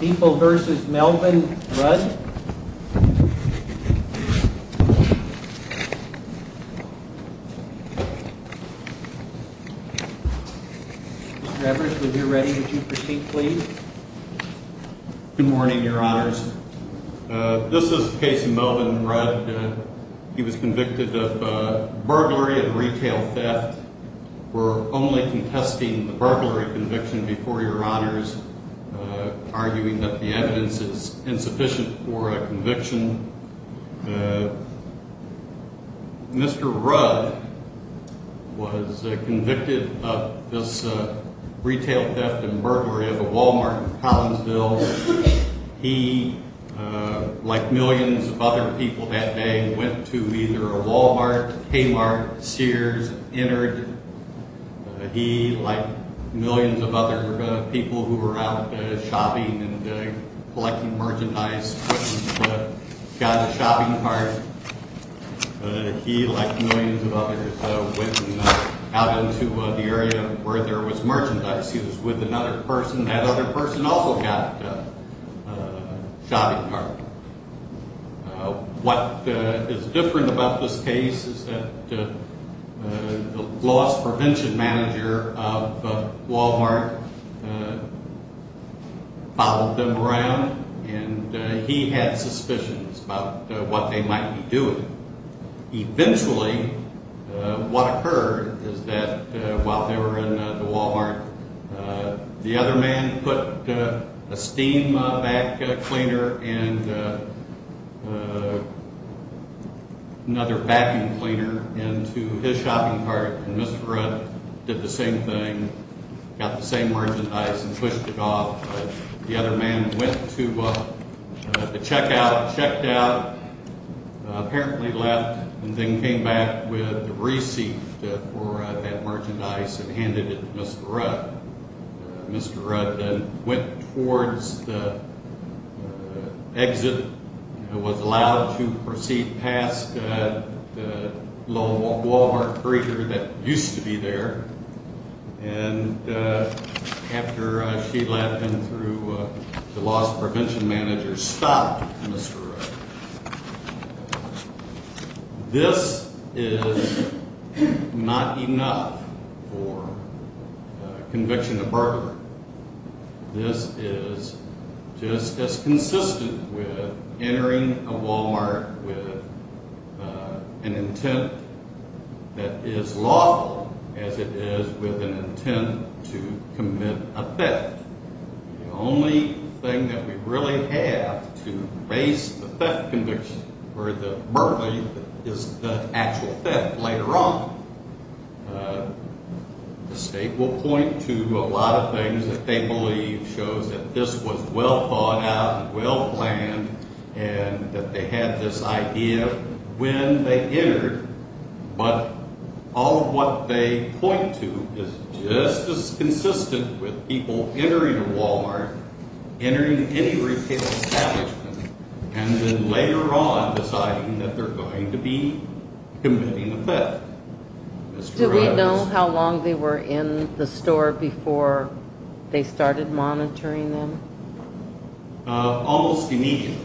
People v. Melvin Rudd Mr. Evers, when you're ready, would you proceed, please? Good morning, Your Honors. This is the case of Melvin Rudd. He was convicted of burglary and retail theft. We're only contesting the burglary conviction before Your Honors, arguing that the evidence is insufficient for a conviction. Mr. Rudd was convicted of this retail theft and burglary of a Walmart in Collinsville. He, like millions of other people that day, went to either a Walmart, Kmart, Sears, and entered. He, like millions of other people who were out shopping and collecting merchandise, went and got a shopping cart. He, like millions of others, went out into the area where there was merchandise. He was with another person. That other person also got a shopping cart. What is different about this case is that the loss prevention manager of Walmart followed them around, and he had suspicions about what they might be doing. Eventually, what occurred is that while they were in the Walmart, the other man put a steam vac cleaner and another vacuum cleaner into his shopping cart, and Mr. Rudd did the same thing, got the same merchandise, and pushed it off. The other man went to the checkout, checked out. Apparently left and then came back with the receipt for that merchandise and handed it to Mr. Rudd. Mr. Rudd then went towards the exit and was allowed to proceed past the Walmart breeder that used to be there. After she left and through the loss prevention manager stopped Mr. Rudd, this is not enough for conviction of burglary. This is just as consistent with entering a Walmart with an intent that is lawful as it is with an intent to commit a theft. The only thing that we really have to base the theft conviction or the burglary is the actual theft later on. The state will point to a lot of things that they believe shows that this was well thought out and well planned, and that they had this idea when they entered, but all of what they point to is just as consistent with people entering a Walmart, entering any retail establishment, and then later on deciding that they're going to be committing a theft. Did we know how long they were in the store before they started monitoring them? Almost immediately.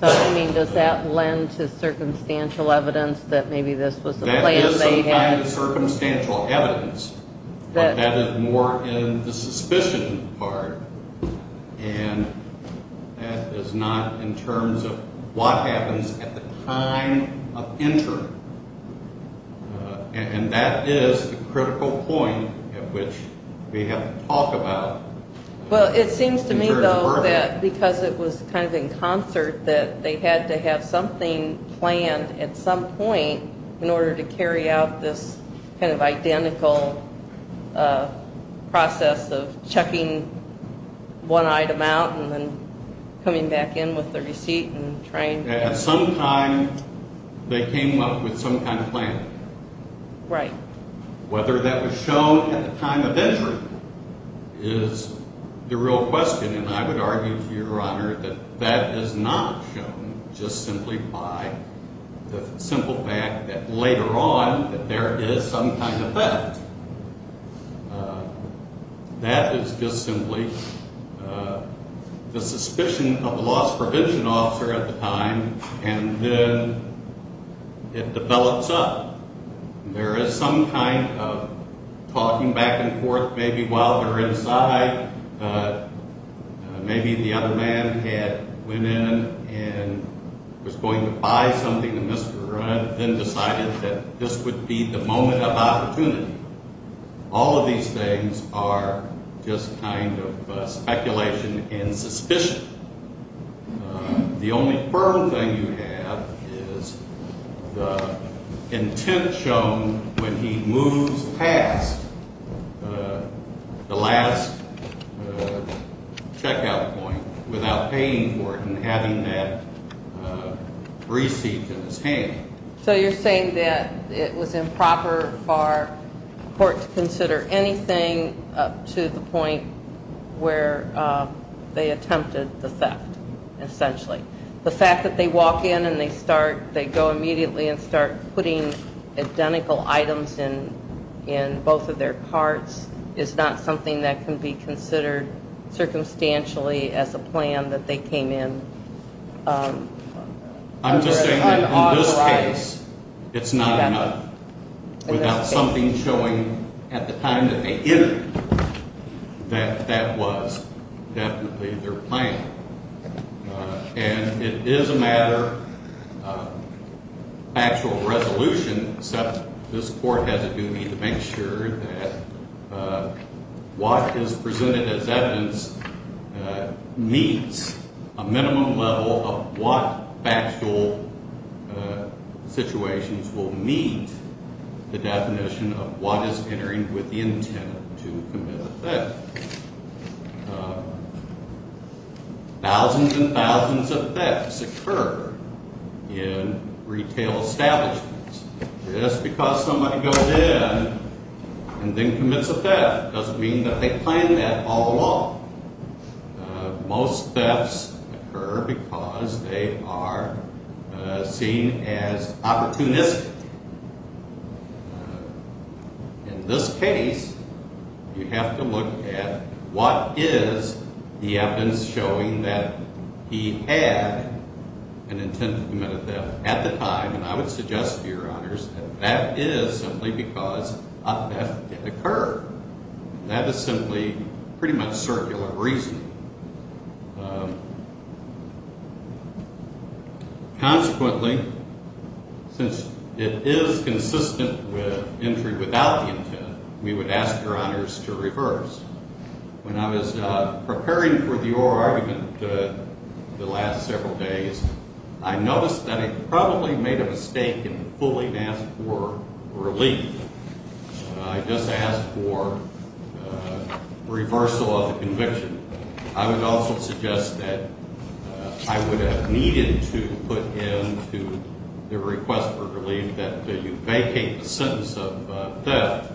Does that lend to circumstantial evidence that maybe this was a plan they had? That is some kind of circumstantial evidence, but that is more in the suspicion part, and that is not in terms of what happens at the time of entering. And that is the critical point at which we have to talk about in terms of burglary. Well, it seems to me, though, that because it was kind of in concert that they had to have something planned at some point in order to carry out this kind of identical process of checking one item out and then coming back in with the receipt and trying to get it. At some time, they came up with some kind of plan. Right. Whether that was shown at the time of entry is the real question, and I would argue to Your Honor that that is not shown just simply by the simple fact that later on, that there is some kind of theft. That is just simply the suspicion of the loss prevention officer at the time, and then it develops up. There is some kind of talking back and forth, maybe while they're inside. Maybe the other man had went in and was going to buy something, and Mr. Rudd then decided that this would be the moment of opportunity. All of these things are just kind of speculation and suspicion. The only firm thing you have is the intent shown when he moves past the last checkout point without paying for it and having that receipt in his hand. So you're saying that it was improper for a court to consider anything up to the point where they attempted the theft, essentially. The fact that they walk in and they go immediately and start putting identical items in both of their carts is not something that can be considered circumstantially as a plan that they came in. I'm just saying that in this case, it's not enough. Without something showing at the time that they entered that that was definitely their plan. And it is a matter of actual resolution, except this court has a duty to make sure that what is presented as evidence meets a minimum level of what factual situations will meet the definition of what is entering with the intent to commit a theft. Thousands and thousands of thefts occur in retail establishments. Just because somebody goes in and then commits a theft doesn't mean that they plan that all along. Most thefts occur because they are seen as opportunistic. In this case, you have to look at what is the evidence showing that he had an intent to commit a theft at the time. And I would suggest to your honors that that is simply because a theft did occur. That is simply pretty much circular reasoning. Consequently, since it is consistent with entry without the intent, we would ask your honors to reverse. When I was preparing for the oral argument the last several days, I noticed that I probably made a mistake in fully asking for relief. I just asked for reversal of the conviction. I would also suggest that I would have needed to put in to the request for relief that you vacate the sentence of theft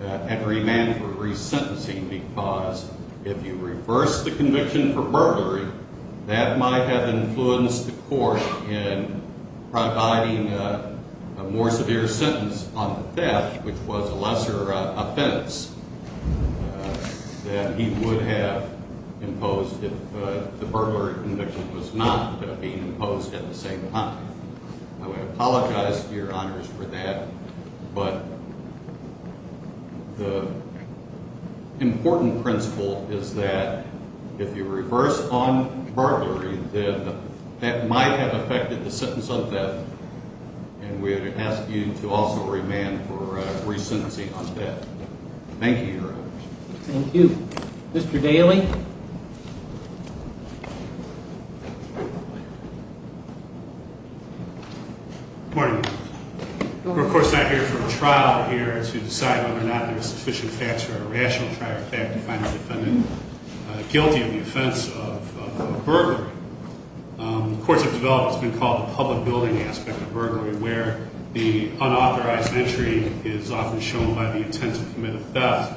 and remand for resentencing because if you reverse the conviction for burglary, that might have influenced the court in providing a more severe sentence on the theft, which was a lesser offense that he would have imposed if the burglary conviction was not being imposed at the same time. I would apologize to your honors for that. But the important principle is that if you reverse on burglary, then that might have affected the sentence of theft. And we would ask you to also remand for resentencing on theft. Thank you, your honors. Thank you. Mr. Daley? Good morning. We're, of course, not here for a trial here to decide whether or not there are sufficient facts for a rational trial or fact to find the defendant guilty of the offense of burglary. The courts have developed what's been called the public building aspect of burglary, where the unauthorized entry is often shown by the intent to commit a theft,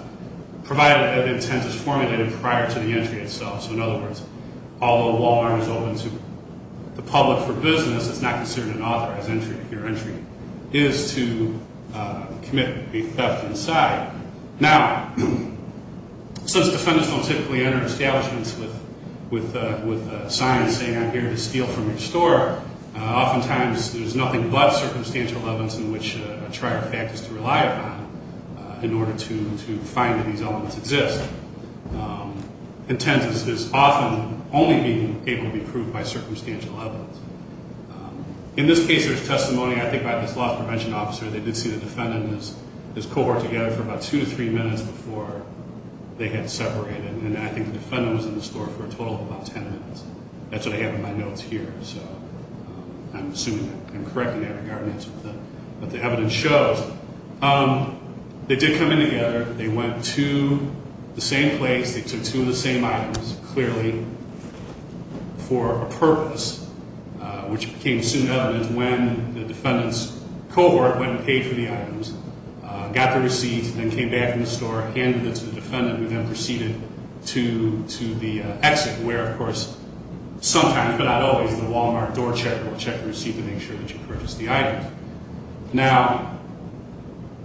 provided that intent is formulated prior to the entry itself. So, in other words, although a wall arm is open to the public for business, it's not considered an authorized entry if your entry is to commit a theft inside. Now, since defendants don't typically enter establishments with a sign saying, I'm here to steal from your store, oftentimes there's nothing but circumstantial evidence in which a trial fact is to rely upon in order to find that these elements exist. Intent is often only being able to be proved by circumstantial evidence. In this case, there's testimony, I think, by this loss prevention officer. They did see the defendant and his cohort together for about two to three minutes before they had separated, and I think the defendant was in the store for a total of about ten minutes. That's what I have in my notes here. So I'm assuming that I'm correcting that in regards to what the evidence shows. They did come in together. They went to the same place. They took two of the same items, clearly for a purpose, which became assumed evidence when the defendant's cohort went and paid for the items, got the receipts, then came back from the store, handed them to the defendant, who then proceeded to the exit, where, of course, sometimes, but not always, the Walmart door checker will check the receipt to make sure that you purchased the items. Now,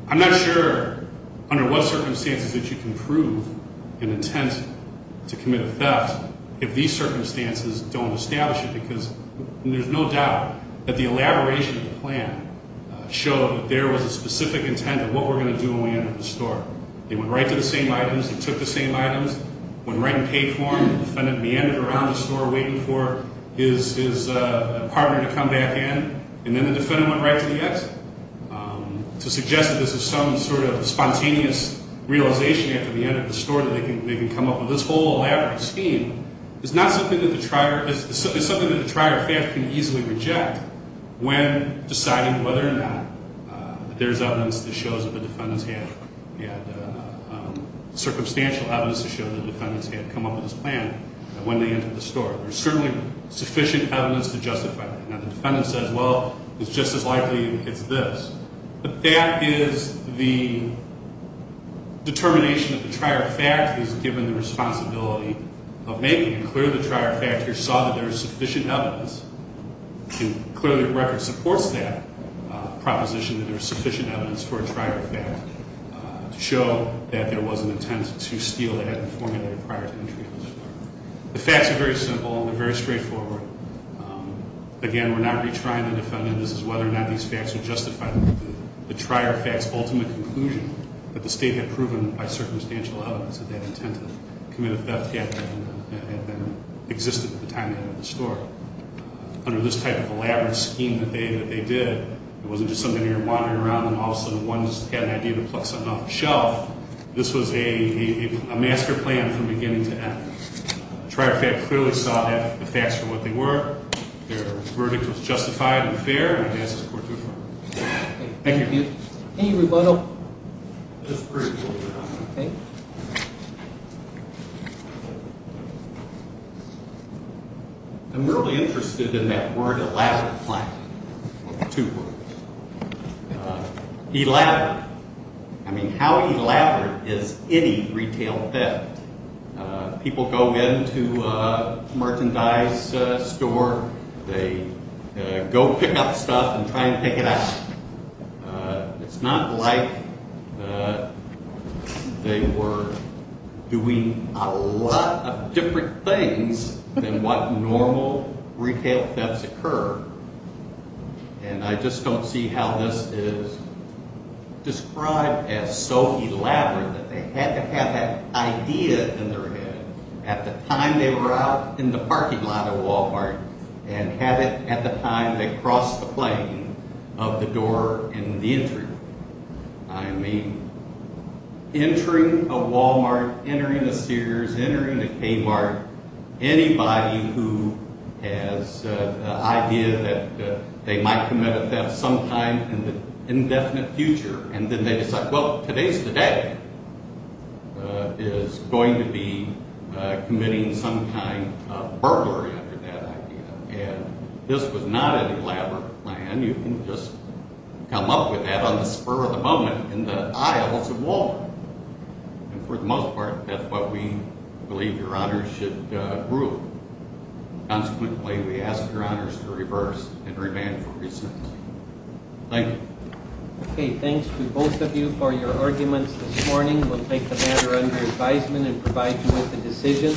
I'm not sure under what circumstances that you can prove an intent to commit a theft if these circumstances don't establish it, because there's no doubt that the elaboration of the plan showed that there was a specific intent of what we're going to do when we enter the store. They went right to the same items. They took the same items, went right and paid for them. The defendant meandered around the store waiting for his partner to come back in, and then the defendant went right to the exit. To suggest that this is some sort of spontaneous realization after the end of the store that they can come up with this whole elaborate scheme is not something that the trier can easily reject when deciding whether or not there's evidence that shows that the defendant's had, he had circumstantial evidence to show that the defendant's had come up with this plan when they entered the store. There's certainly sufficient evidence to justify that. Now, the defendant says, well, it's just as likely it's this. But that is the determination that the trier of fact has given the responsibility of making, and clearly the trier of fact here saw that there's sufficient evidence, and clearly the record supports that proposition that there's sufficient evidence for a trier of fact. To show that there was an intent to steal that formula prior to entry of the store. The facts are very simple, and they're very straightforward. Again, we're not retrying the defendant. This is whether or not these facts would justify the trier of fact's ultimate conclusion that the state had proven by circumstantial evidence that that intent to commit a theft happened and existed at the time of the end of the store. Under this type of elaborate scheme that they did, it wasn't just somebody wandering around and all of a sudden one just had an idea to pluck something off the shelf. This was a master plan from beginning to end. The trier of fact clearly saw the facts for what they were. Their verdict was justified and fair, and it passes the court to affirm. Thank you. Any rebuttal? Just briefly. Okay. I'm really interested in that word, elaborate plan. Two words. Elaborate. I mean, how elaborate is any retail theft? People go into a merchandise store. They go pick up stuff and try and pick it up. It's not like they were doing a lot of different things than what normal retail thefts occur, and I just don't see how this is described as so elaborate that they had to have that idea in their head at the time they were out in the parking lot at Walmart and have it at the time they crossed the plane of the door and the entry. I mean, entering a Walmart, entering a Sears, entering a Kmart, anybody who has the idea that they might commit a theft sometime in the indefinite future and then they decide, well, today's the day is going to be committing some kind of burglary after that idea, and this was not an elaborate plan. You can just come up with that on the spur of the moment in the aisles of Walmart, and for the most part, that's what we believe Your Honors should rule. Consequently, we ask Your Honors to reverse and remand for reasons. Thank you. Okay, thanks to both of you for your arguments this morning. We'll take the matter under advisement and provide you with a decision.